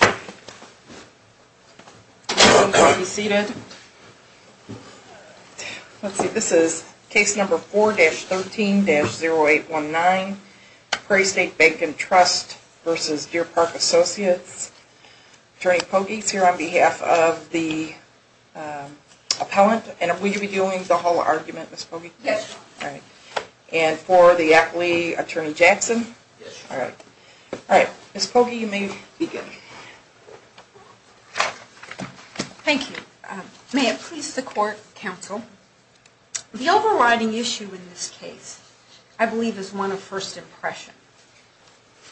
Attorney Pogge is here on behalf of the appellant, and are we reviewing the whole argument Ms. Pogge? Yes. Alright. And for the accolade, Attorney Jackson? Yes. Alright. Alright. Ms. Pogge, you may begin. Thank you. May it please the Court, Counsel, the overriding issue in this case I believe is one of first impression.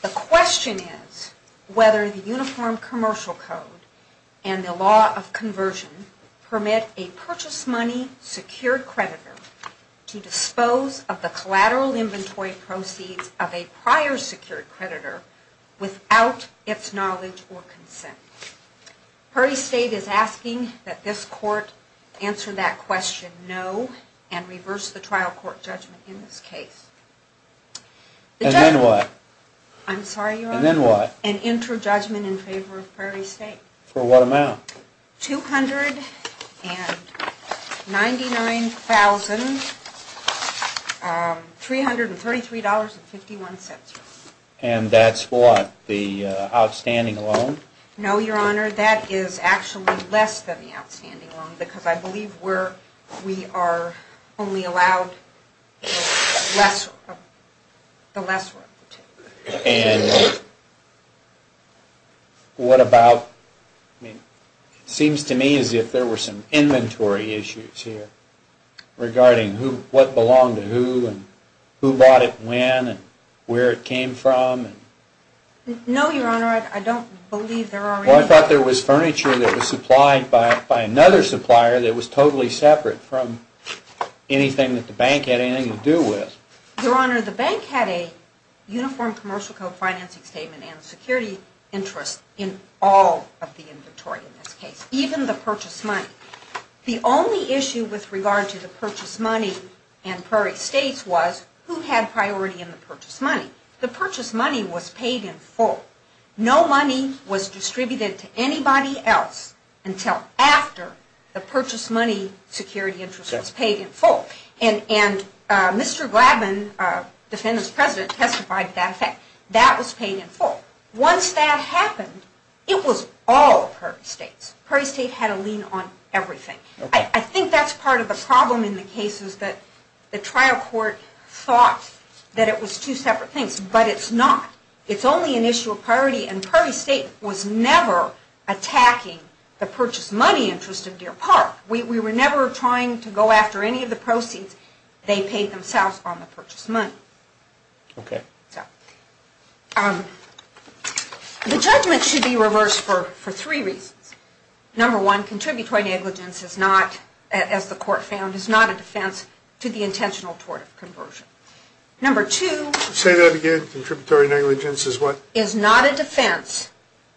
The question is whether the Uniform Commercial Code and the law of conversion permit a purchased money secured creditor to dispose of the collateral inventory proceeds of a prior secured creditor without its knowledge or consent. Prairie State is asking that this Court answer that question no, and reverse the trial court judgment in this case. And then what? I'm sorry, Your Honor? And then what? An inter-judgment in favor of Prairie State. $299,333.51, Your Honor. And that's what, the outstanding loan? No, Your Honor, that is actually less than the outstanding loan, because I believe we are only allowed the lesser of the two. And what about, it seems to me as if there were some inventory issues here regarding what belonged to who, and who bought it when, and where it came from. No, Your Honor, I don't believe there are any. Well, I thought there was furniture that was supplied by another supplier that was totally separate from anything that the bank had anything to do with. Your Honor, the bank had a Uniform Commercial Code financing statement and security interest in all of the inventory in this case, even the purchased money. The only issue with regard to the purchased money and Prairie State's was, who had priority in the purchased money? The purchased money was paid in full. No money was distributed to anybody else until after the purchased money security interest was paid in full. And Mr. Gladman, defendant's president, testified to that fact. That was paid in full. Once that happened, it was all of Prairie State's. Prairie State had a lean on everything. I think that's part of the problem in the cases that the trial court thought that it was two separate things, but it's not. It's only an issue of priority, and Prairie State was never attacking the purchased money interest of Deer Park. We were never trying to go after any of the proceeds they paid themselves on the purchased money. Okay. The judgment should be reversed for three reasons. Number one, contributory negligence is not, as the court found, is not a defense to the intentional tort of conversion. Number two- Say that again. Contributory negligence is what? Is not a defense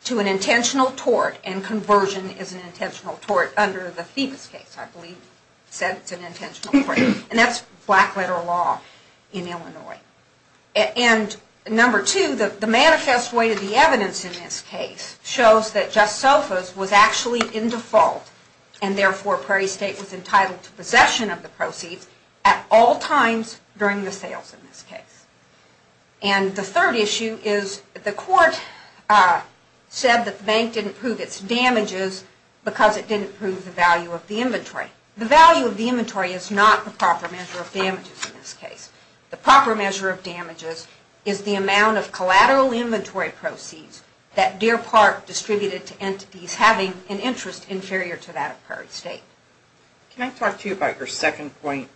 to an intentional tort, and conversion is an intentional tort under the Thevis case, I believe said it's an intentional tort. And that's black letter law in Illinois. And number two, the manifest way to the evidence in this case shows that Just Sofa was actually in default, and therefore Prairie State was entitled to possession of the proceeds at all times during the sales in this case. And the third issue is the court said that the bank didn't prove its damages because it didn't prove the value of the inventory. The value of the inventory is not the proper measure of damages in this case. The proper measure of damages is the amount of collateral inventory proceeds that Deer Park distributed to entities having an interest inferior to that of Prairie State. Can I talk to you about your second point?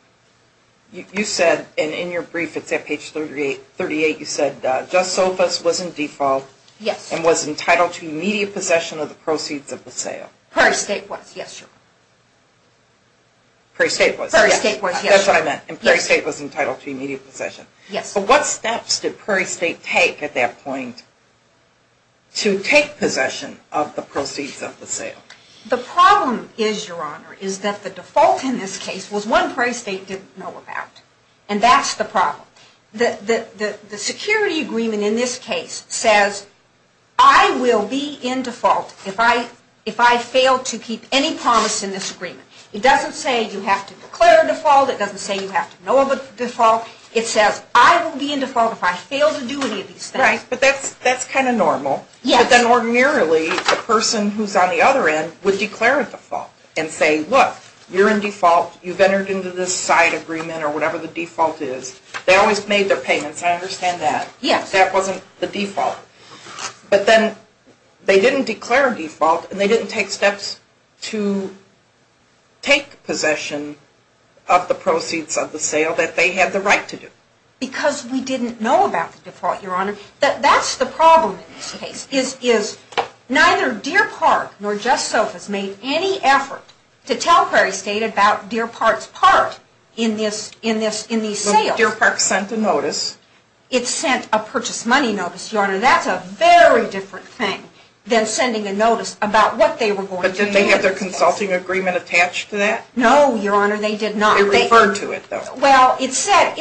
You said, and in your brief it's at page 38, you said Just Sofas was in default and was entitled to immediate possession of the proceeds of the sale. Prairie State was, yes. Prairie State was, yes. That's what I meant. And Prairie State was entitled to immediate possession. Yes. But what steps did Prairie State take at that point to take possession of the proceeds of the sale? The problem is, Your Honor, is that the default in this case was one Prairie State didn't know about. And that's the problem. The security agreement in this case says, I will be in default if I fail to keep any promise in this agreement. It doesn't say you have to declare a default. It doesn't say you have to know of a default. It says, I will be in default if I fail to do any of these things. Right. But that's kind of normal. Yes. But then ordinarily, the person who's on the other end would declare a default and say, look, you're in default, you've entered into this side agreement or whatever the default is. They always made their payments. I understand that. Yes. That wasn't the default. But then they didn't declare a default and they didn't take steps to take possession of the proceeds of the sale that they had the right to do. Because we didn't know about the default, Your Honor. That's the problem in this case, is neither Deer Park nor Jess Sofas made any effort to tell Prairie State about Deer Park's part in these sales. Deer Park sent a notice. It sent a purchase money notice, Your Honor. That's a very different thing than sending a notice about what they were going to do. But didn't they have their consulting agreement attached to that? No, Your Honor. They did not. They referred to it, though. Well, it said,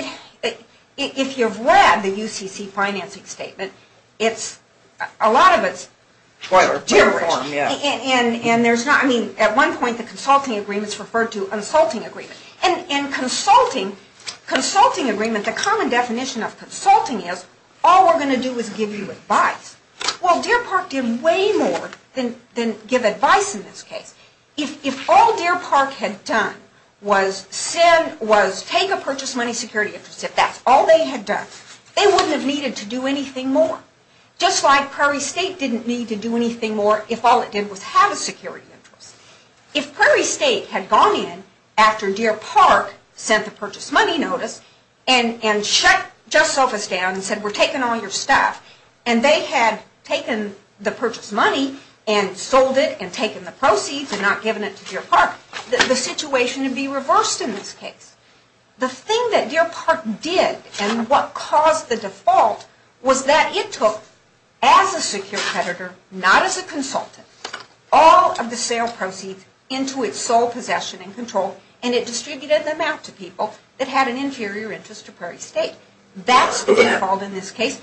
if you've read the UCC financing statement, it's, a lot of it's Deer Rich. And there's not, I mean, at one point the consulting agreement's referred to a consulting agreement. And consulting agreement, the common definition of consulting is, all we're going to do is give you advice. Well, Deer Park did way more than give advice in this case. If all Deer Park had done was take a purchase money security interest, if that's all they had done, they wouldn't have needed to do anything more. Just like Prairie State didn't need to do anything more if all it did was have a security interest. If Prairie State had gone in after Deer Park sent the purchase money notice and shut Just Sofa's down and said, we're taking all your stuff, and they had taken the purchase money and sold it and taken the proceeds and not given it to Deer Park, the situation would be reversed in this case. The thing that Deer Park did and what caused the default was that it took, as a secure competitor, not as a consultant, all of the sale proceeds into its sole possession and control, and it distributed them out to people that had an inferior interest to Prairie State. That's the default in this case,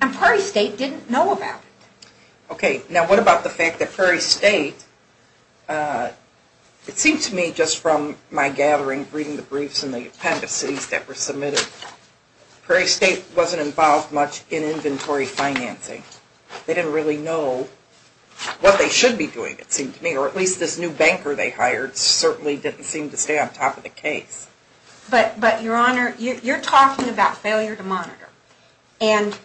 and Prairie State didn't know about it. Okay. Now, what about the fact that Prairie State, it seems to me just from my gathering, reading the briefs and the appendices that were submitted, Prairie State wasn't involved much in inventory financing. They didn't really know what they should be doing, it seemed to me, or at least this new banker they hired certainly didn't seem to stay on top of the case. But Your Honor, you're talking about failure to monitor, and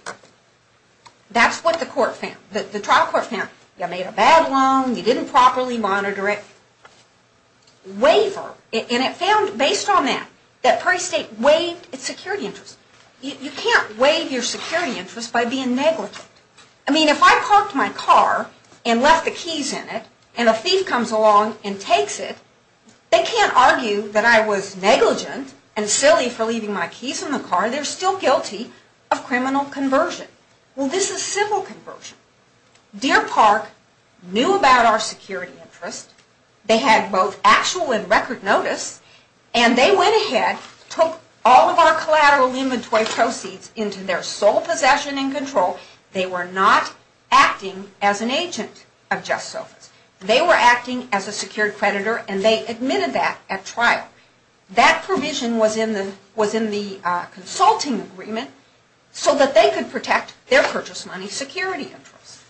that's what the court found, the trial court found. You made a bad loan, you didn't properly monitor it, waiver, and it found, based on that, that Prairie State waived its security interest. You can't waive your security interest by being negligent. I mean, if I parked my car and left the keys in it, and a thief comes along and takes it, they can't argue that I was negligent and silly for leaving my keys in the car. They're still guilty of criminal conversion. Well, this is civil conversion. Deer Park knew about our security interest. They had both actual and record notice, and they went ahead, took all of our collateral inventory proceeds into their sole possession and control. They were not acting as an agent of Just Sofa's. They were acting as a secured creditor, and they admitted that at trial. That provision was in the consulting agreement so that they could protect their purchase money security interest.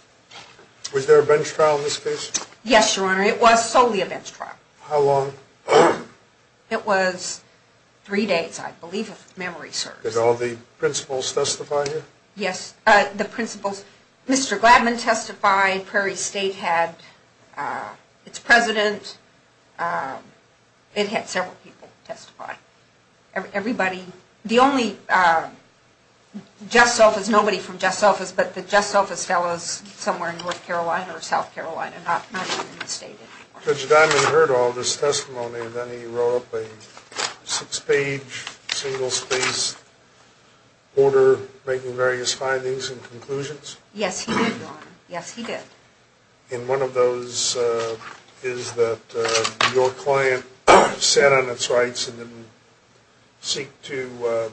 Was there a bench trial in this case? Yes, Your Honor. It was solely a bench trial. How long? It was three days, I believe, if memory serves. Did all the principals testify here? Yes. The principals. Mr. Gladman testified. Prairie State had its president. It had several people testify. The only Just Sofas, nobody from Just Sofas, but the Just Sofas fellows somewhere in North Carolina. Not even in the state anymore. Judge Gladman heard all this testimony, and then he wrote up a six-page, single-spaced order making various findings and conclusions? Yes, he did, Your Honor. Yes, he did. And one of those is that your client sat on its rights and didn't seek to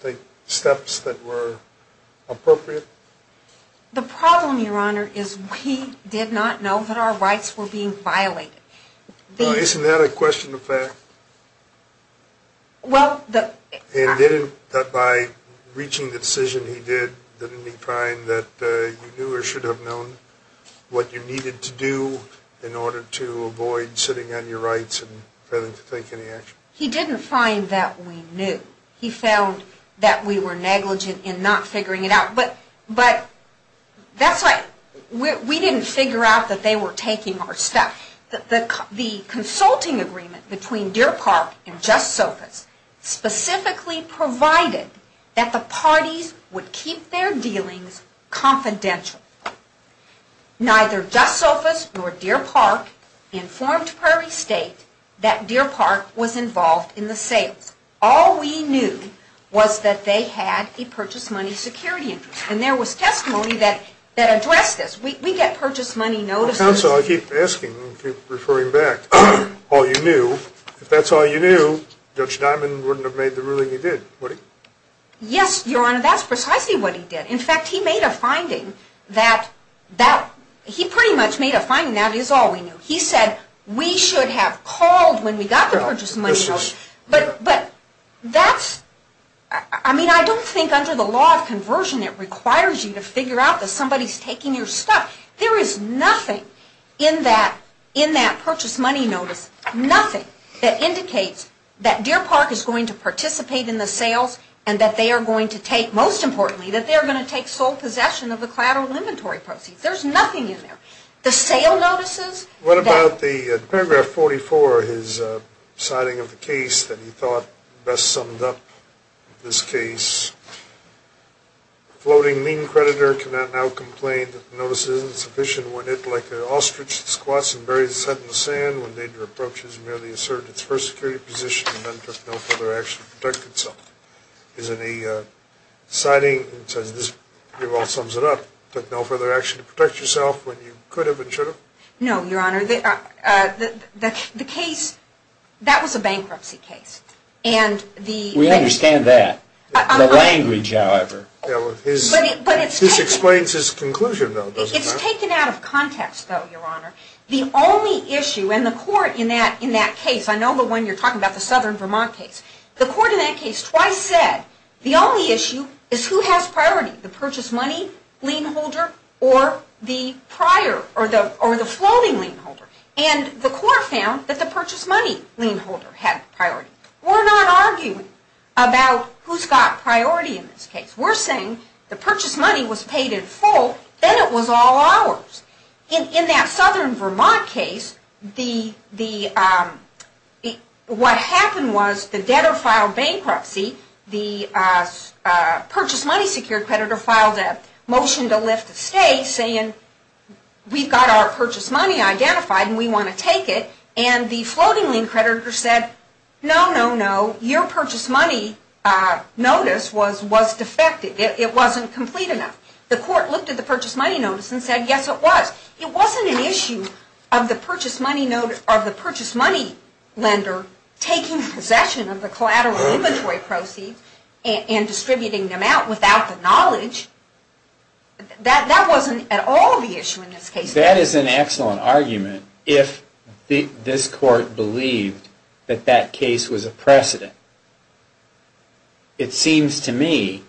take steps that were appropriate? The problem, Your Honor, is we did not know that our rights were being violated. Isn't that a question of fact? And by reaching the decision he did, didn't he find that you knew or should have known what you needed to do in order to avoid sitting on your rights and failing to take any action? He didn't find that we knew. He found that we were negligent in not figuring it out. But that's why we didn't figure out that they were taking our stuff. The consulting agreement between Deer Park and Just Sofas specifically provided that the parties would keep their dealings confidential. Neither Just Sofas nor Deer Park informed Prairie State that Deer Park was involved in the sales. All we knew was that they had a purchase money security interest. And there was testimony that addressed this. We get purchase money notices. Counsel, I keep asking, keep referring back, all you knew, if that's all you knew, Judge Diamond wouldn't have made the ruling he did, would he? Yes, Your Honor, that's precisely what he did. In fact, he made a finding that, he pretty much made a finding, that is all we knew. He said we should have called when we got the purchase money notice. But that's, I mean, I don't think under the law of conversion it requires you to figure out that somebody's taking your stuff. There is nothing in that purchase money notice, nothing, that indicates that Deer Park is going to participate in the sales and that they are going to take, most importantly, that they are going to take sole possession of the collateral inventory proceeds. There's nothing in there. The sale notices. What about the paragraph 44, his citing of the case that he thought best summed up this case? Floating lien creditor can now complain that the notice isn't sufficient when it, like an ostrich, squats and buries its head in the sand when nature approaches merely assert its first security position and then took no further action to protect itself. Is any citing, he says this pretty well sums it up, took no further action to protect yourself when you could have and should have? No, Your Honor. The case, that was a bankruptcy case. We understand that. The language, however. This explains his conclusion, though, doesn't it? It's taken out of context, though, Your Honor. The only issue, and the court in that case, I know the one you're talking about, the Southern Vermont case, the court in that case twice said the only issue is who has priority, the purchase money lien holder or the prior or the floating lien holder. And the court found that the purchase money lien holder had priority. We're not arguing about who's got priority in this case. We're saying the purchase money was paid in full, then it was all ours. In that Southern Vermont case, what happened was the debtor filed bankruptcy, the purchase money secured creditor filed a motion to lift the stay saying we've got our purchase money identified and we want to take it, and the floating lien creditor said, no, no, no, your purchase money notice was defective. It wasn't complete enough. The court looked at the purchase money notice and said, yes, it was. It wasn't an issue of the purchase money lender taking possession of the collateral inventory proceeds and distributing them out without the knowledge. That wasn't at all the issue in this case. That is an excellent argument if this court believed that that case was a precedent. It seems to me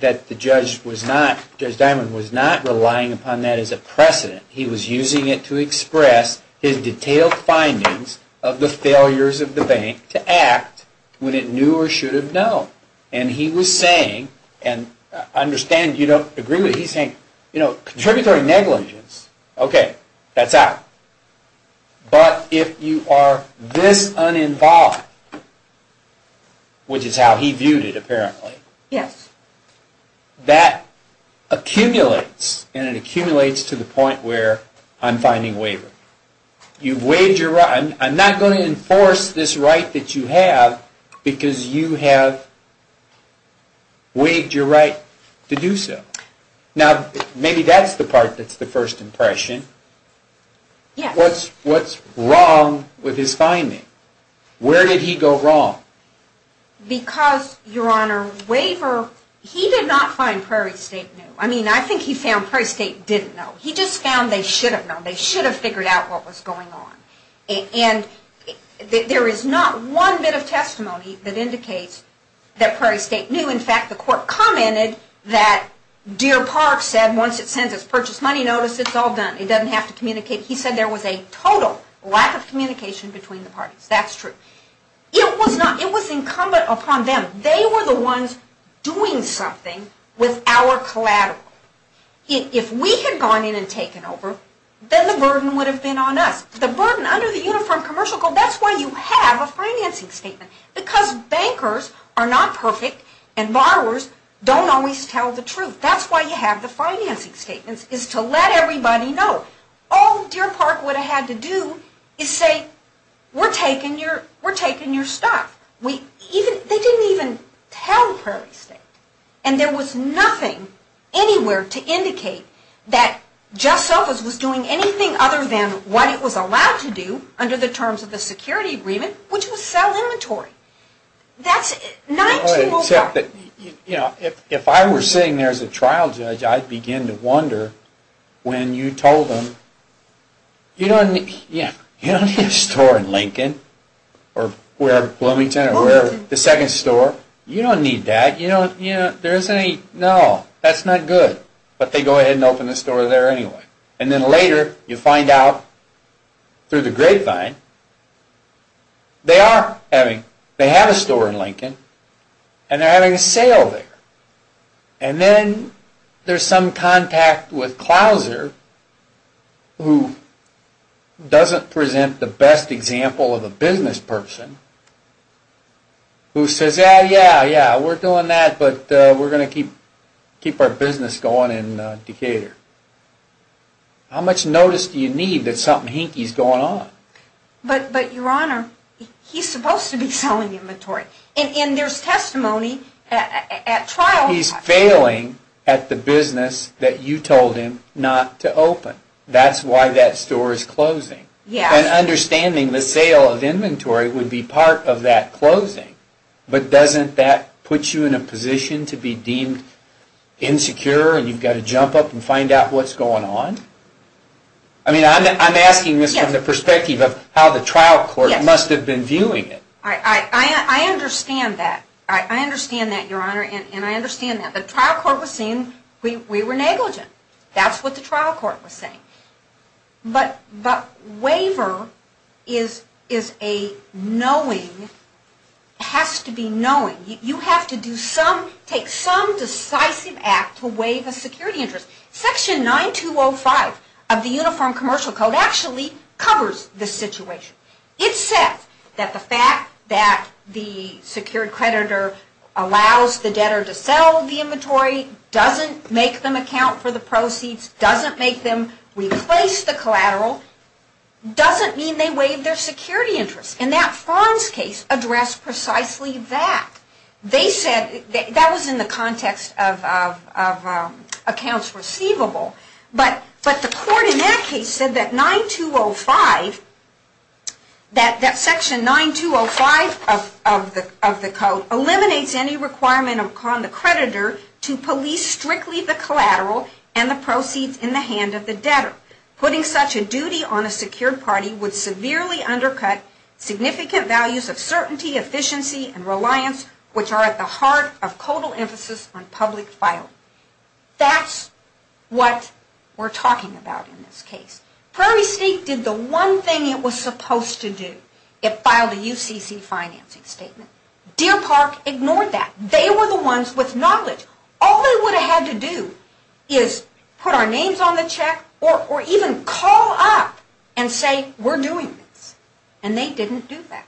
that Judge Diamond was not relying upon that as a precedent. He was using it to express his detailed findings of the failures of the bank to act when it knew or should have known. He was saying, and I understand you don't agree with it, he's saying, contributory negligence, okay, that's out. But if you are this uninvolved, which is how he viewed it apparently, that accumulates and it accumulates to the point where I'm finding waiver. I'm not going to enforce this right that you have because you have waived your right to do so. Now, maybe that's the part that's the first impression. What's wrong with his finding? Where did he go wrong? Because, Your Honor, Waiver, he did not find Prairie State new. I mean, I think he found Prairie State didn't know. He just found they should have known. They should have figured out what was going on. And there is not one bit of testimony that indicates that Prairie State knew. In fact, the court commented that Deer Park said once it sends its purchase money notice, it's all done. It doesn't have to communicate. He said there was a total lack of communication between the parties. That's true. It was incumbent upon them. They were the ones doing something with our collateral. If we had gone in and taken over, then the burden would have been on us. The burden under the Uniform Commercial Code, that's why you have a financing statement. Because bankers are not perfect and borrowers don't always tell the truth. That's why you have the financing statements is to let everybody know. All Deer Park would have had to do is say, we're taking your stuff. They didn't even tell Prairie State. And there was nothing anywhere to indicate that JustSelfers was doing anything other than what it was allowed to do under the terms of the security agreement, which was sell inventory. If I were sitting there as a trial judge, I'd begin to wonder when you told them, you don't need a store in Lincoln, or Bloomington, or the second store. You don't need that. No, that's not good. But they go ahead and open the store there anyway. And then later, you find out through the grapevine, they have a store in Lincoln, and they're having a sale there. And then there's some contact with Clouser, who doesn't present the best example of a business person, who says, yeah, yeah, yeah, we're doing that, but we're going to keep our business going in Decatur. How much notice do you need that something hinky is going on? But Your Honor, he's supposed to be selling inventory. And there's testimony at trial. He's failing at the business that you told him not to open. That's why that store is closing. And understanding the sale of inventory would be part of that closing. But doesn't that put you in a position to be deemed insecure, and you've got to jump up and find out what's going on? I mean, I'm asking this from the perspective of how the trial court must have been viewing it. I understand that. I understand that, Your Honor, and I understand that. The trial court was saying we were negligent. That's what the trial court was saying. But waiver is a knowing, has to be knowing. You have to take some decisive act to waive a security interest. Section 9205 of the Uniform Commercial Code actually covers this situation. It says that the fact that the secured creditor allows the debtor to sell the inventory, doesn't make them account for the proceeds, doesn't make them replace the collateral, doesn't mean they waive their security interest. And that Fonz case addressed precisely that. That was in the context of accounts receivable. But the court in that case said that 9205, that section 9205 of the code, eliminates any requirement upon the creditor to police strictly the collateral and the proceeds in the hand of the debtor. Putting such a duty on a secured party would severely undercut significant values of certainty, efficiency, and reliance, which are at the heart of total emphasis on public filing. That's what we're talking about in this case. Prairie State did the one thing it was supposed to do. It filed a UCC financing statement. Deer Park ignored that. They were the ones with knowledge. All they would have had to do is put our names on the check or even call up and say we're doing this. And they didn't do that.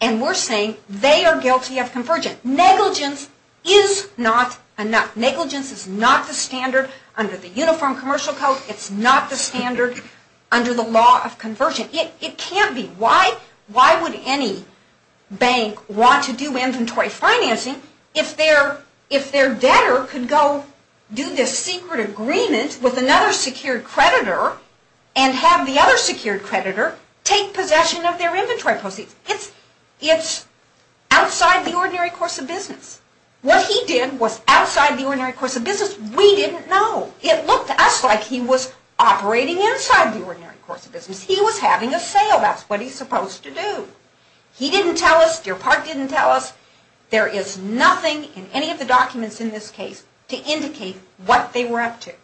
And we're saying they are guilty of convergent. Negligence is not enough. Negligence is not the standard under the Uniform Commercial Code. It's not the standard under the law of convergent. It can't be. Why would any bank want to do inventory financing if their debtor could go do this secret agreement with another secured creditor and have the other secured creditor take possession of their inventory proceeds? It's outside the ordinary course of business. What he did was outside the ordinary course of business. We didn't know. It looked to us like he was operating inside the ordinary course of business. He was having a sale. That's what he's supposed to do. He didn't tell us. Deer Park didn't tell us. There is nothing in any of the documents in this case to indicate what they were up to.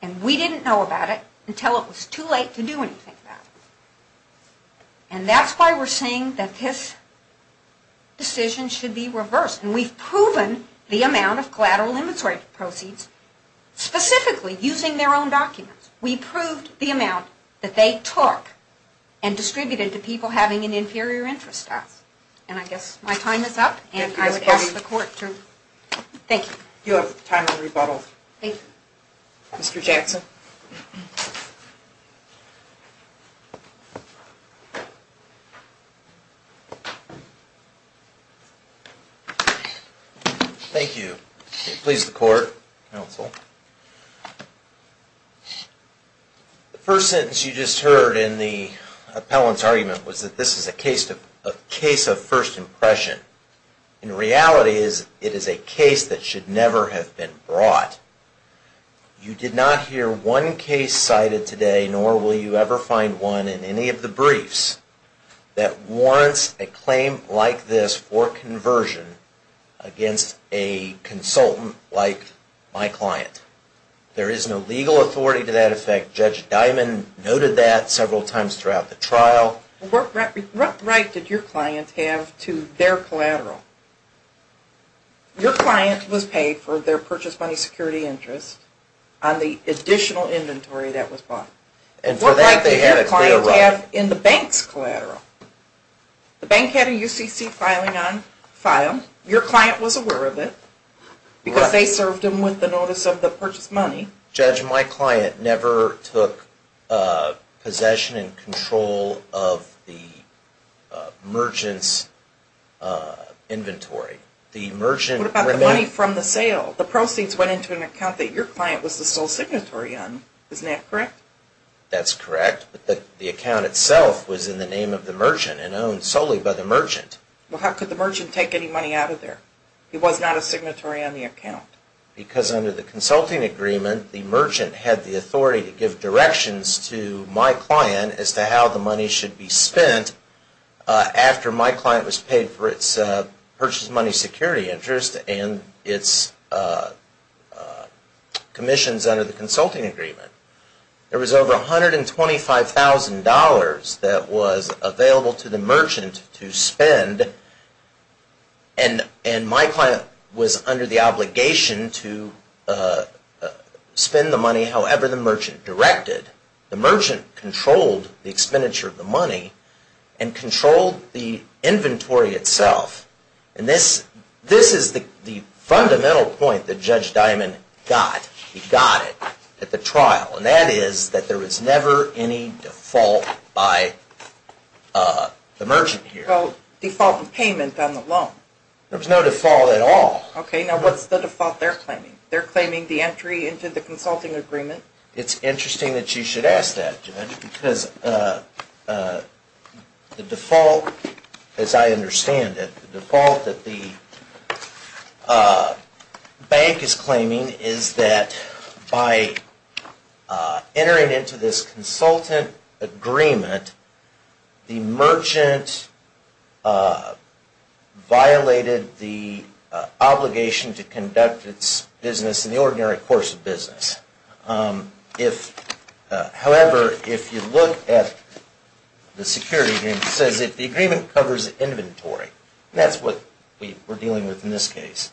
And we didn't know about it until it was too late to do anything about it. And that's why we're saying that this decision should be reversed. And we've proven the amount of collateral inventory proceeds specifically using their own documents. We proved the amount that they took and distributed to people having an inferior interest to us. And I guess my time is up, and I would ask the court to... Thank you. You have time for a rebuttal. Thank you. Thank you. Please, the court. Counsel. The first sentence you just heard in the appellant's argument was that this is a case of first impression. In reality, it is a case that should never have been brought. You did not hear one case cited today, nor will you ever find one in any of the briefs, that warrants a claim like this for conversion against a consultant like my client. There is no legal authority to that effect. Judge Dimon noted that several times throughout the trial. What right did your client have to their collateral? Your client was paid for their purchase money security interest on the additional inventory that was bought. What right did your client have in the bank's collateral? The bank had a UCC filing on file. Your client was aware of it because they served him with the notice of the purchase money. Judge, my client never took possession and control of the merchant's inventory. What about the money from the sale? The proceeds went into an account that your client was the sole signatory on. Isn't that correct? That's correct. But the account itself was in the name of the merchant and owned solely by the merchant. How could the merchant take any money out of there? He was not a signatory on the account. Because under the consulting agreement, the merchant had the authority to give directions to my client as to how the money should be spent after my client was paid for its purchase money security interest and its commissions under the consulting agreement. There was over $125,000 that was available to the merchant to spend and my client was under the obligation to spend the money however the merchant directed. The merchant controlled the expenditure of the money and controlled the inventory itself. And this is the fundamental point that Judge Diamond got. He got it at the trial. And that is that there was never any default by the merchant here. What about default payment on the loan? There was no default at all. Okay. Now what's the default they're claiming? They're claiming the entry into the consulting agreement. It's interesting that you should ask that, Judge, because the default, as I understand it, the default that the bank is claiming is that by entering into this consultant agreement, the merchant violated the obligation to conduct its business in the ordinary course of business. However, if you look at the security agreement, it says that the agreement covers inventory. That's what we're dealing with in this case.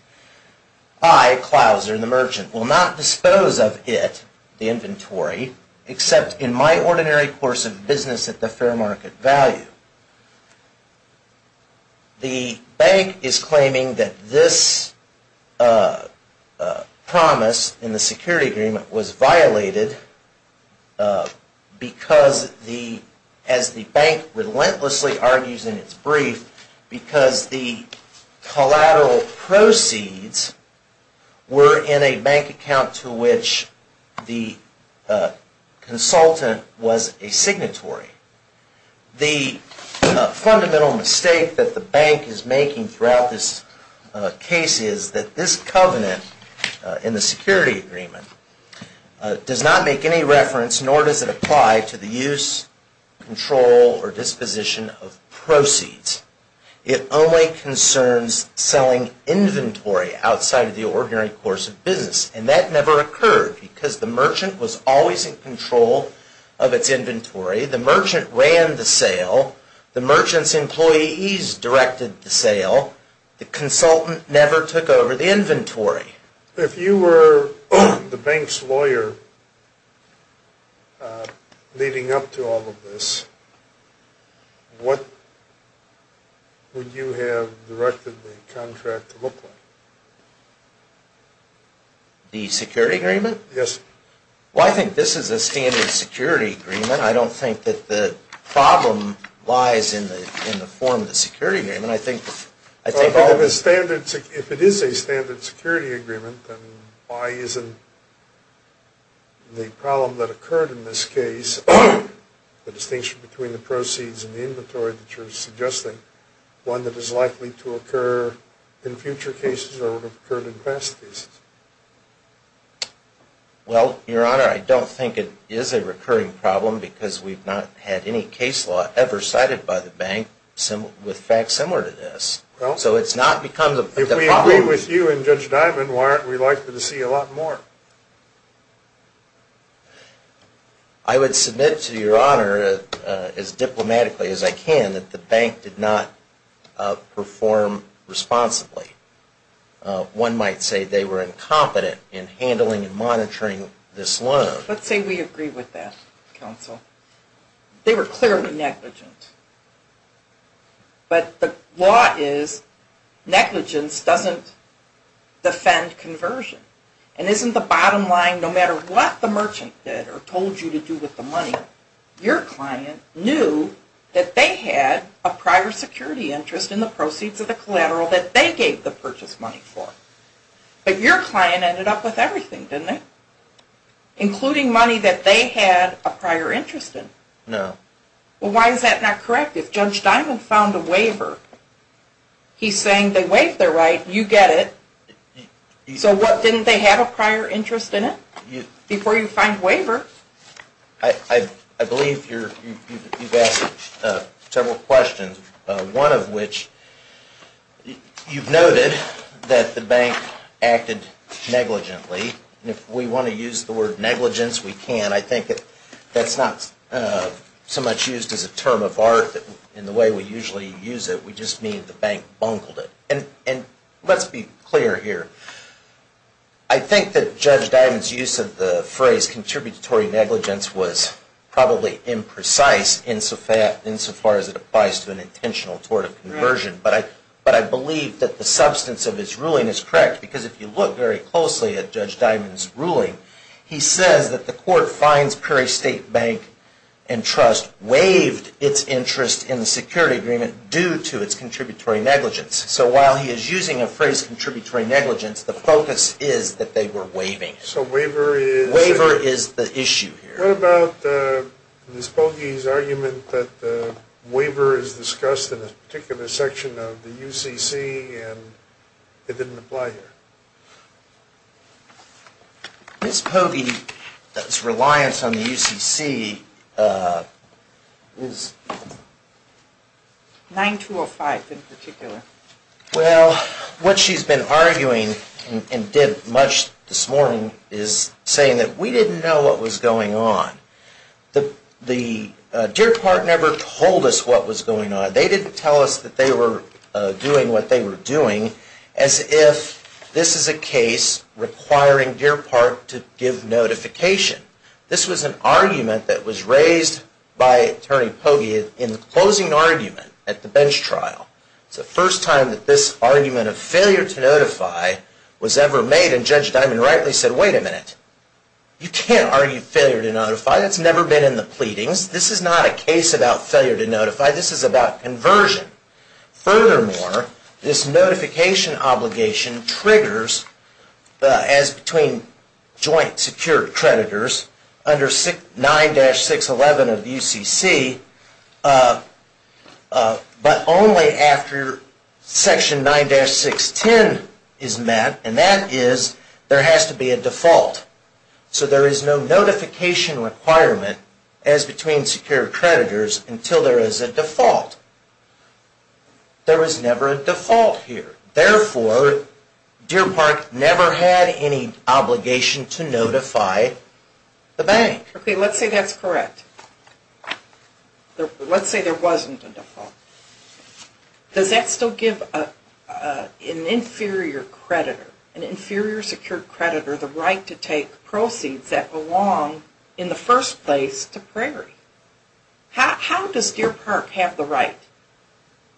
I, Clouser, the merchant, will not dispose of it, the inventory, except in my ordinary course of business at the fair market value. The bank is claiming that this promise in the security agreement was violated because, as the bank relentlessly argues in its brief, because the collateral proceeds were in a bank account to which the consultant was a signatory. The fundamental mistake that the bank is making throughout this case is that this covenant in the security agreement does not make any reference, nor does it apply to the use, control, or disposition of proceeds. It only concerns selling inventory outside of the ordinary course of business, and that never occurred because the merchant was always in control of its inventory. The merchant ran the sale. The merchant's employees directed the sale. The consultant never took over the inventory. If you were the bank's lawyer leading up to all of this, what would you have directed the contract to look like? The security agreement? Yes. Well, I think this is a standard security agreement. I don't think that the problem lies in the form of the security agreement. If it is a standard security agreement, then why isn't the problem that occurred in this case, the distinction between the proceeds and the inventory that you're suggesting, one that is likely to occur in future cases or would have occurred in past cases? Well, Your Honor, I don't think it is a recurring problem because we've not had any case law ever cited by the bank with facts similar to this. So it's not become the problem. If we agree with you and Judge Dimon, why aren't we likely to see a lot more? I would submit to Your Honor, as diplomatically as I can, that the bank did not perform responsibly. One might say they were incompetent in handling and monitoring this loan. Let's say we agree with that, Counsel. They were clearly negligent. But the law is negligence doesn't defend conversion. And isn't the bottom line, no matter what the merchant did or told you to do with the money, your client knew that they had a prior security interest in the proceeds of the collateral that they gave the purchase money for. But your client ended up with everything, didn't it? Including money that they had a prior interest in. No. Well, why is that not correct? If Judge Dimon found a waiver, he's saying they waived their right, you get it. So what, didn't they have a prior interest in it? Before you find waiver? I believe you've asked several questions. One of which, you've noted that the bank acted negligently. If we want to use the word negligence, we can. I think that's not so much used as a term of art in the way we usually use it. We just mean the bank bungled it. Let's be clear here. I think that Judge Dimon's use of the phrase contributory negligence was probably imprecise insofar as it applies to an intentional tort of conversion. But I believe that the substance of his ruling is correct, because if you look very closely at Judge Dimon's ruling, he says that the court finds Perry State Bank and Trust waived its interest in the security agreement due to its contributory negligence. So while he is using a phrase contributory negligence, the focus is that they were waiving. So waiver is the issue here. What about Ms. Pogge's argument that the waiver is discussed in a particular section of the UCC and it didn't apply here? Ms. Pogge's reliance on the UCC is... 9205 in particular. Well, what she's been arguing and did much this morning is saying that we didn't know what was going on. The Deer Park never told us what was going on. They didn't tell us that they were doing what they were doing as if this is a case requiring Deer Park to give notification. This was an argument that was raised by Attorney Pogge in the closing argument at the bench trial. It's the first time that this argument of failure to notify was ever made, and Judge Dimon rightly said, wait a minute. You can't argue failure to notify. That's never been in the pleadings. This is not a case about failure to notify. This is about conversion. Furthermore, this notification obligation triggers as between joint secured creditors under 9-611 of UCC, but only after section 9-610 is met, and that is there has to be a default. So there is no notification requirement as between secured creditors until there is a default. There was never a default here. Therefore, Deer Park never had any obligation to notify the bank. Okay, let's say that's correct. Let's say there wasn't a default. Does that still give an inferior creditor, an inferior secured creditor, the right to take proceeds that belong in the first place to Prairie? How does Deer Park have the right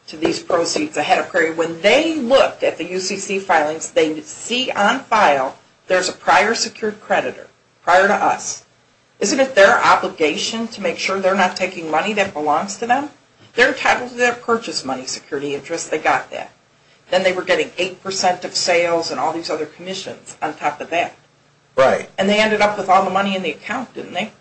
to these proceeds ahead of Prairie? When they look at the UCC filings, they see on file there's a prior secured creditor, prior to us. Isn't it their obligation to make sure they're not taking money that belongs to them? They're entitled to their purchase money security address. They got that. Then they were getting 8% of sales and all these other commissions on top of that. Right. And they ended up with all the money in the account, didn't they?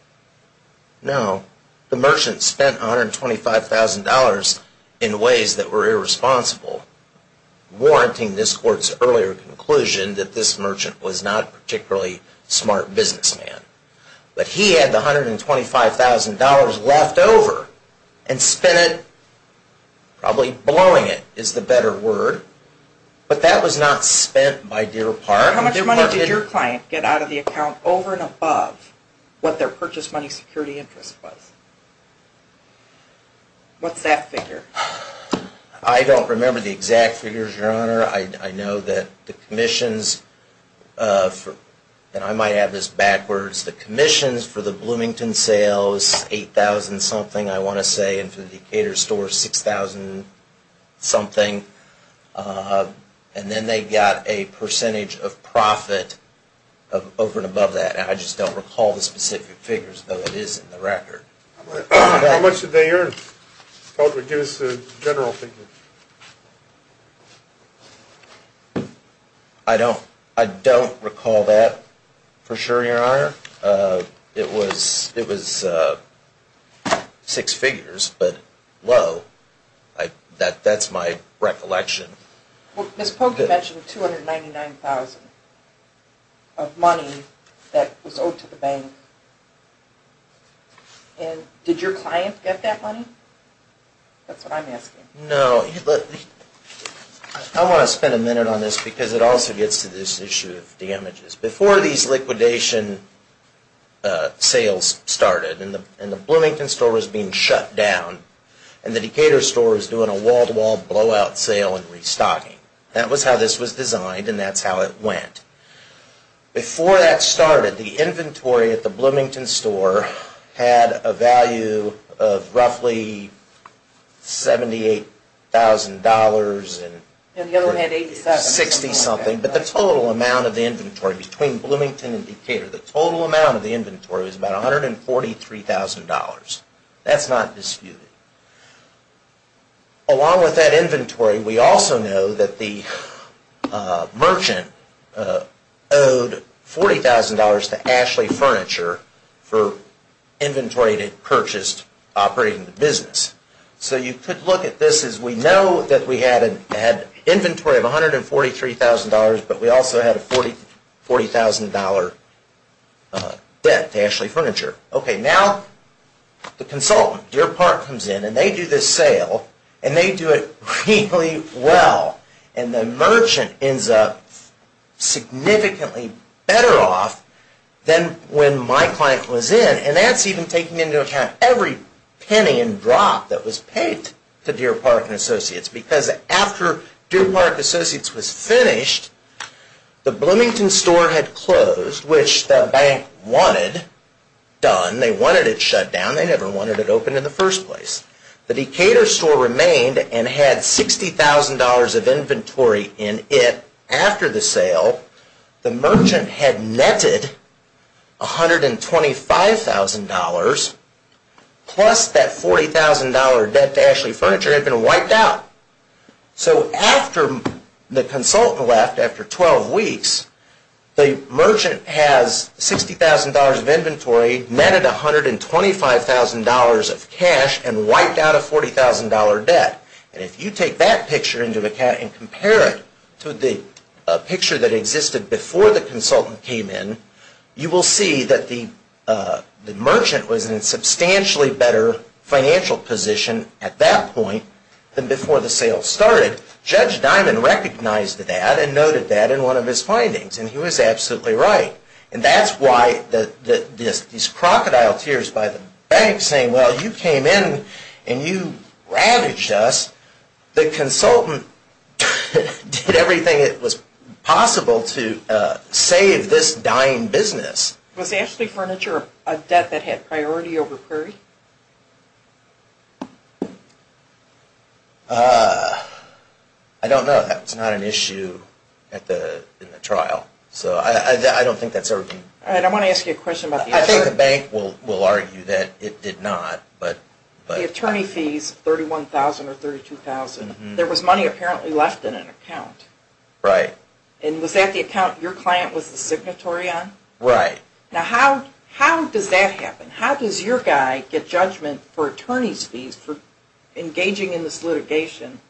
No. The merchant spent $125,000 in ways that were irresponsible, warranting this court's earlier conclusion that this merchant was not a particularly smart businessman. But he had the $125,000 left over and spent it, probably blowing it is the better word, but that was not spent by Deer Park. How much money did your client get out of the account over and above what their purchase money security interest was? What's that figure? I don't remember the exact figures, Your Honor. I know that the commissions, and I might have this backwards, the commissions for the Bloomington sales, was $8,000-something, I want to say, and for the Decatur stores, $6,000-something. And then they got a percentage of profit over and above that. I just don't recall the specific figures, though it is in the record. How much did they earn? Give us the general figure. I don't recall that for sure, Your Honor. It was six figures, but low. That's my recollection. Ms. Pogue, you mentioned $299,000 of money that was owed to the bank. Did your client get that money? That's what I'm asking. No. I want to spend a minute on this because it also gets to this issue of damages. Before these liquidation sales started, and the Bloomington store was being shut down, and the Decatur store was doing a wall-to-wall blowout sale and restocking. That was how this was designed, and that's how it went. Before that started, the inventory at the Bloomington store had a value of roughly $78,000. The other one had $80,000. The total amount of the inventory between Bloomington and Decatur was about $143,000. That's not disputed. Along with that inventory, we also know that the merchant owed $40,000 to Ashley Furniture for inventory that he purchased operating the business. You could look at this as we know that we had an inventory of $143,000, but we also had a $40,000 debt to Ashley Furniture. Now, the consultant, Deer Park, comes in, and they do this sale, and they do it really well. The merchant ends up significantly better off than when my client was in. That's even taking into account every penny and drop that was paid to Deer Park and Associates because after Deer Park and Associates was finished, the Bloomington store had closed, which the bank wanted done. They wanted it shut down. They never wanted it open in the first place. The Decatur store remained and had $60,000 of inventory in it after the sale. The merchant had netted $125,000 plus that $40,000 debt to Ashley Furniture had been wiped out. After the consultant left, after 12 weeks, the merchant has $60,000 of inventory, netted $125,000 of cash, and wiped out a $40,000 debt. If you take that picture into account and compare it to the picture that existed before the consultant came in, you will see that the merchant was in a substantially better financial position at that point than before the sale started. Judge Dimon recognized that and noted that in one of his findings, and he was absolutely right. And that's why these crocodile tears by the bank saying, well, you came in and you ravaged us. The consultant did everything that was possible to save this dying business. Was Ashley Furniture a debt that had priority over Prairie? I don't know. That's not an issue in the trial. I don't think that's everything. I want to ask you a question about the answer. I think the bank will argue that it did not. The attorney fees, $31,000 or $32,000, there was money apparently left in an account. Right. And was that the account your client was the signatory on? Right. Now how does that happen? How does your guy get judgment for attorney's fees for engaging in this litigation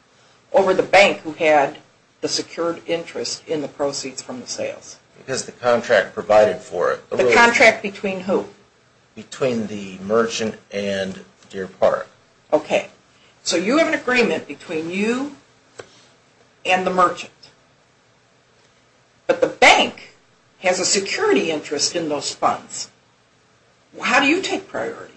over the bank who had the secured interest in the proceeds from the sales? Because the contract provided for it. The contract between who? Between the merchant and Deer Park. Okay. So you have an agreement between you and the merchant. But the bank has a security interest in those funds. How do you take priority?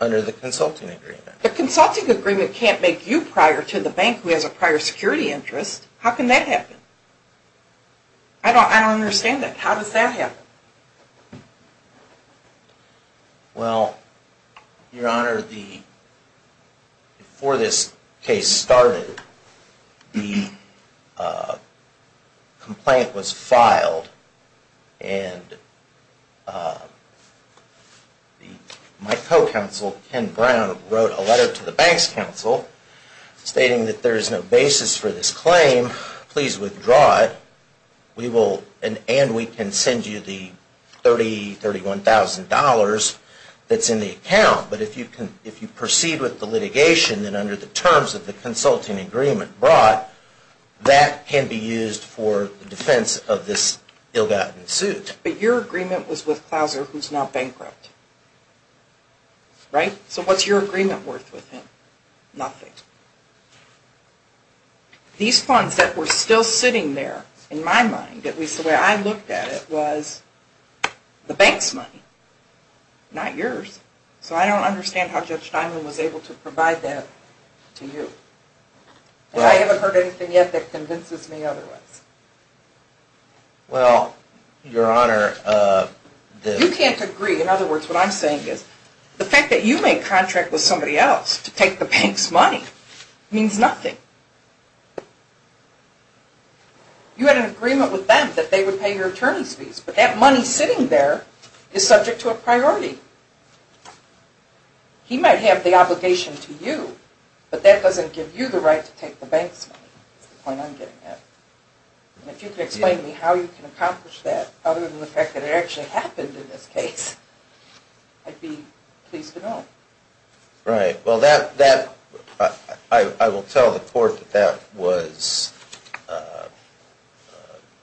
Under the consulting agreement. The consulting agreement can't make you prior to the bank who has a prior security interest. How can that happen? I don't understand that. How does that happen? Well, Your Honor, before this case started, the complaint was filed and my co-counsel, Ken Brown, wrote a letter to the bank's counsel stating that there is no basis for this claim. Please withdraw it and we can send you the $30,000, $31,000 that's in the account. But if you proceed with the litigation, then under the terms of the consulting agreement brought, that can be used for defense of this ill-gotten suit. But your agreement was with Clauser who's now bankrupt. Right? So what's your agreement worth with him? Nothing. These funds that were still sitting there, in my mind, at least the way I looked at it, was the bank's money, not yours. So I don't understand how Judge Steinman was able to provide that to you. And I haven't heard anything yet that convinces me otherwise. Well, Your Honor, the... You can't agree. In other words, what I'm saying is the fact that you made a contract with somebody else to take the bank's money means nothing. You had an agreement with them that they would pay your attorney's fees, but that money sitting there is subject to a priority. He might have the obligation to you, but that doesn't give you the right to take the bank's money. That's the point I'm getting at. And if you could explain to me how you can accomplish that, other than the fact that it actually happened in this case, I'd be pleased to know. Right. Well, that... I will tell the Court that that was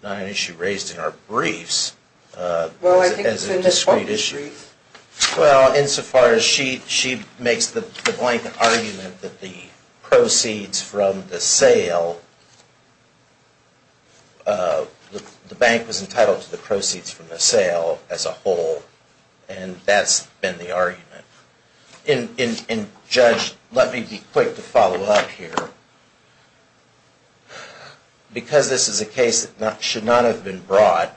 not an issue raised in our briefs. Well, I think it's in this Court's brief. Well, insofar as she makes the blanket argument that the proceeds from the sale... the bank was entitled to the proceeds from the sale as a whole, and that's been the argument. And, Judge, let me be quick to follow up here. Because this is a case that should not have been brought,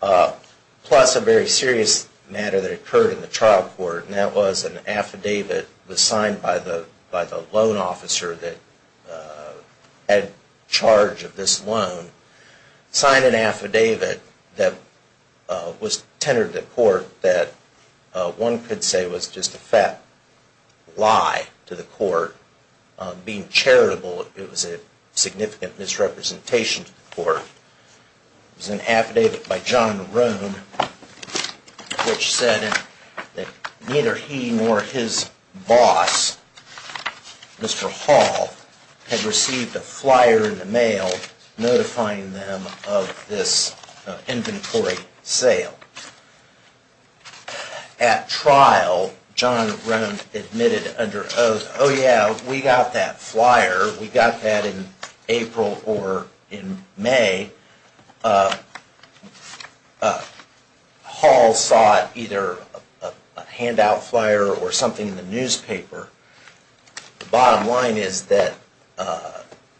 plus a very serious matter that occurred in the trial court, and that was an affidavit was signed by the loan officer that had charge of this loan, signed an affidavit that was tendered to the Court that one could say was just a fat lie to the Court. Being charitable, it was a significant misrepresentation to the Court. It was an affidavit by John Roan, which said that neither he nor his boss, Mr. Hall, had received a flyer in the mail notifying them of this inventory sale. At trial, John Roan admitted under oath, Oh yeah, we got that flyer. We got that in April or in May. Hall sought either a handout flyer or something in the newspaper. The bottom line is that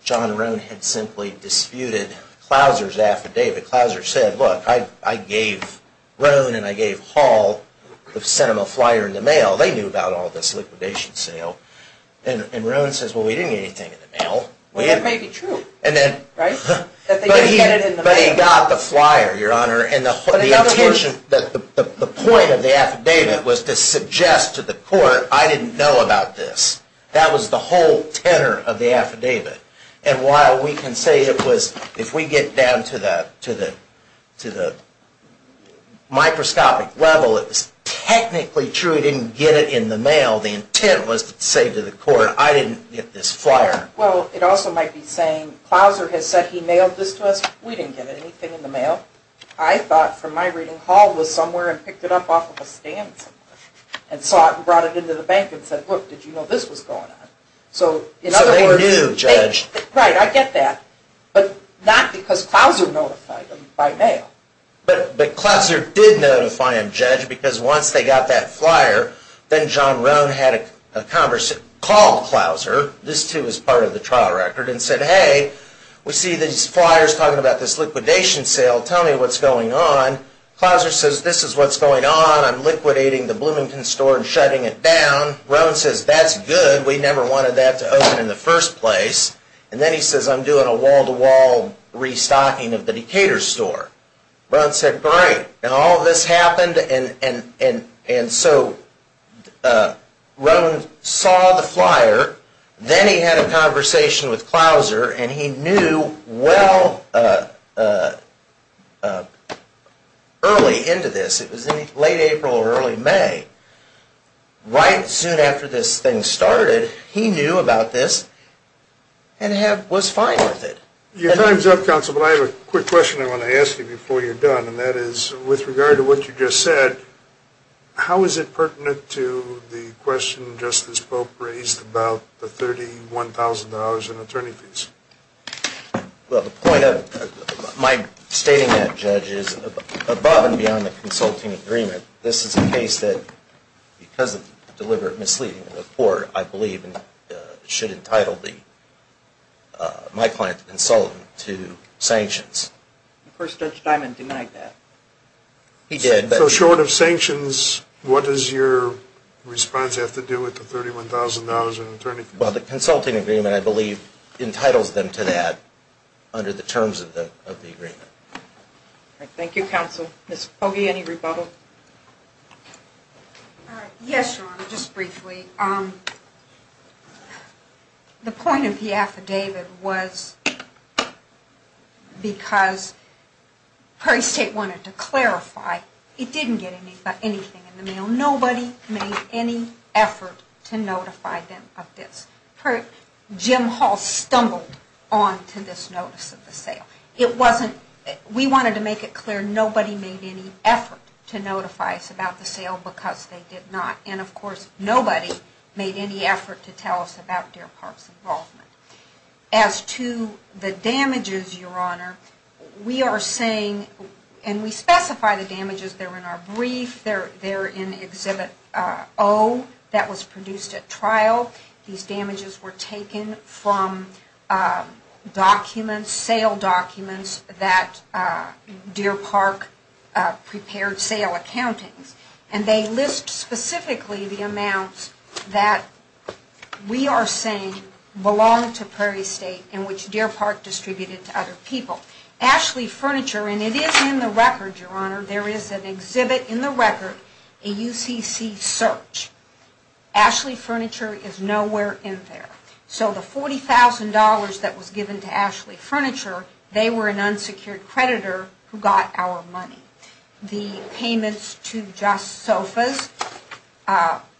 John Roan had simply disputed Clouser's affidavit. Clouser said, look, I gave Roan and I gave Hall... sent them a flyer in the mail. They knew about all this liquidation sale. And Roan says, well, we didn't get anything in the mail. Well, that may be true, right? But he got the flyer, Your Honor, and the point of the affidavit was to suggest to the Court, I didn't know about this. That was the whole tenor of the affidavit. And while we can say it was, if we get down to the microscopic level, it was technically true he didn't get it in the mail, the intent was to say to the Court, I didn't get this flyer. Well, it also might be saying, Clouser has said he mailed this to us. We didn't get anything in the mail. I thought from my reading Hall was somewhere and picked it up off of a stand somewhere and saw it and brought it into the bank and said, look, did you know this was going on? So they knew, Judge. Right, I get that. But not because Clouser notified them by mail. But Clouser did notify him, Judge, because once they got that flyer, then John Roan had a conversation, called Clouser, this too was part of the trial record, and said, hey, we see these flyers talking about this liquidation sale. Tell me what's going on. Clouser says, this is what's going on. I'm liquidating the Bloomington store and shutting it down. Roan says, that's good. We never wanted that to open in the first place. And then he says, I'm doing a wall-to-wall restocking of the Decatur store. Roan said, great. And all of this happened, and so Roan saw the flyer. Then he had a conversation with Clouser, and he knew well early into this, it was late April or early May, right soon after this thing started, he knew about this and was fine with it. Your time's up, Counsel, but I have a quick question I want to ask you before you're done, and that is, with regard to what you just said, how is it pertinent to the question Justice Pope raised about the $31,000 in attorney fees? Well, the point of my stating that, Judge, is above and beyond the consulting agreement. This is a case that, because of deliberate misleading of the court, I believe should entitle my client, the consultant, to sanctions. Of course, Judge Diamond denied that. He did. So short of sanctions, what does your response have to do with the $31,000 in attorney fees? Well, the consulting agreement, I believe, entitles them to that under the terms of the agreement. Thank you, Counsel. Ms. Pogge, any rebuttal? Yes, Your Honor, just briefly. The point of the affidavit was because Prairie State wanted to clarify, it didn't get anything in the mail. Nobody made any effort to notify them of this. Jim Hall stumbled onto this notice of the sale. We wanted to make it clear nobody made any effort to notify us about the sale because they did not. And, of course, nobody made any effort to tell us about Deer Park's involvement. As to the damages, Your Honor, we are saying, and we specify the damages. They're in our brief. They're in Exhibit O that was produced at trial. These damages were taken from documents, sale documents, that Deer Park prepared sale accountings. And they list specifically the amounts that we are saying belonged to Prairie State and which Deer Park distributed to other people. Ashley Furniture, and it is in the record, Your Honor, there is an exhibit in the record, a UCC search. Ashley Furniture is nowhere in there. So the $40,000 that was given to Ashley Furniture, they were an unsecured creditor who got our money. The payments to Just Sofas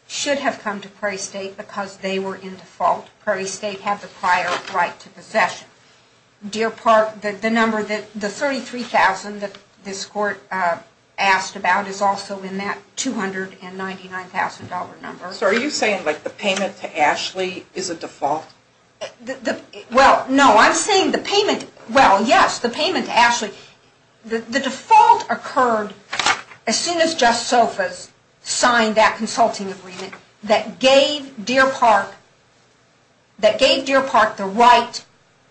should have come to Prairie State because they were in default. Prairie State had the prior right to possession. Deer Park, the number, the $33,000 that this court asked about is also in that $299,000 number. So are you saying, like, the payment to Ashley is a default? Well, no. I'm saying the payment, well, yes, the payment to Ashley. The default occurred as soon as Just Sofas signed that consulting agreement that gave Deer Park the right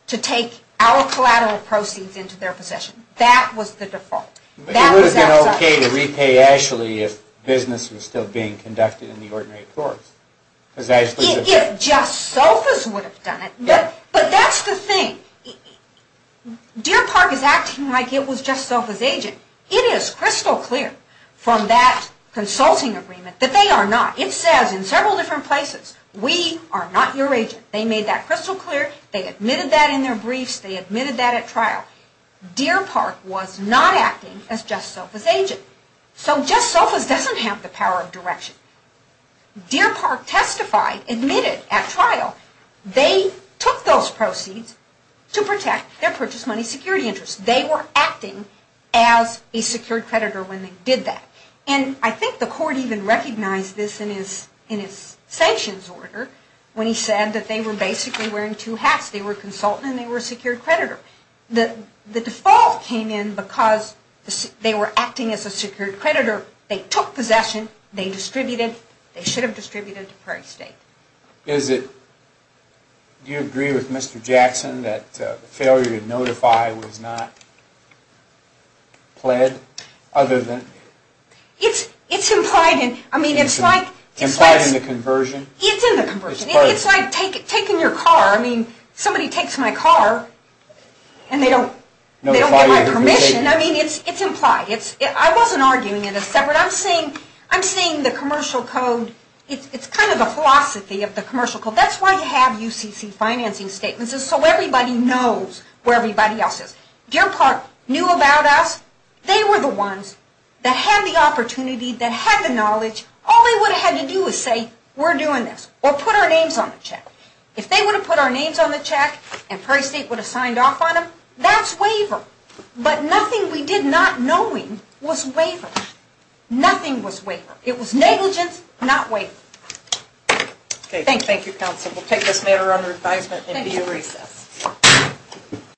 to take our collateral proceeds into their possession. That was the default. It would have been okay to repay Ashley if business was still being conducted in the ordinary courts. If Just Sofas would have done it. But that's the thing. Deer Park is acting like it was Just Sofas' agent. It is crystal clear from that consulting agreement that they are not. It says in several different places, we are not your agent. They made that crystal clear. They admitted that in their briefs. They admitted that at trial. Deer Park was not acting as Just Sofas' agent. So Just Sofas doesn't have the power of direction. Deer Park testified, admitted at trial. They took those proceeds to protect their purchase money security interest. They were acting as a secured creditor when they did that. And I think the court even recognized this in its sanctions order when he said that they were basically wearing two hats. They were a consultant and they were a secured creditor. The default came in because they were acting as a secured creditor. They took possession. They distributed. They should have distributed to Prairie State. Do you agree with Mr. Jackson that the failure to notify was not pled other than? It's implied. Implied in the conversion? It's in the conversion. It's like taking your car. Somebody takes my car and they don't get my permission. It's implied. I wasn't arguing in a separate. I'm saying the commercial code. It's kind of a philosophy of the commercial code. That's why you have UCC financing statements is so everybody knows where everybody else is. Deer Park knew about us. They were the ones that had the opportunity, that had the knowledge. All they would have had to do was say, we're doing this or put our names on the check. If they would have put our names on the check and Prairie State would have signed off on them, that's waiver. But nothing we did not knowing was waiver. Nothing was waiver. It was negligence, not waiver. Thank you, Counsel. We'll take this matter under advisement and be at recess.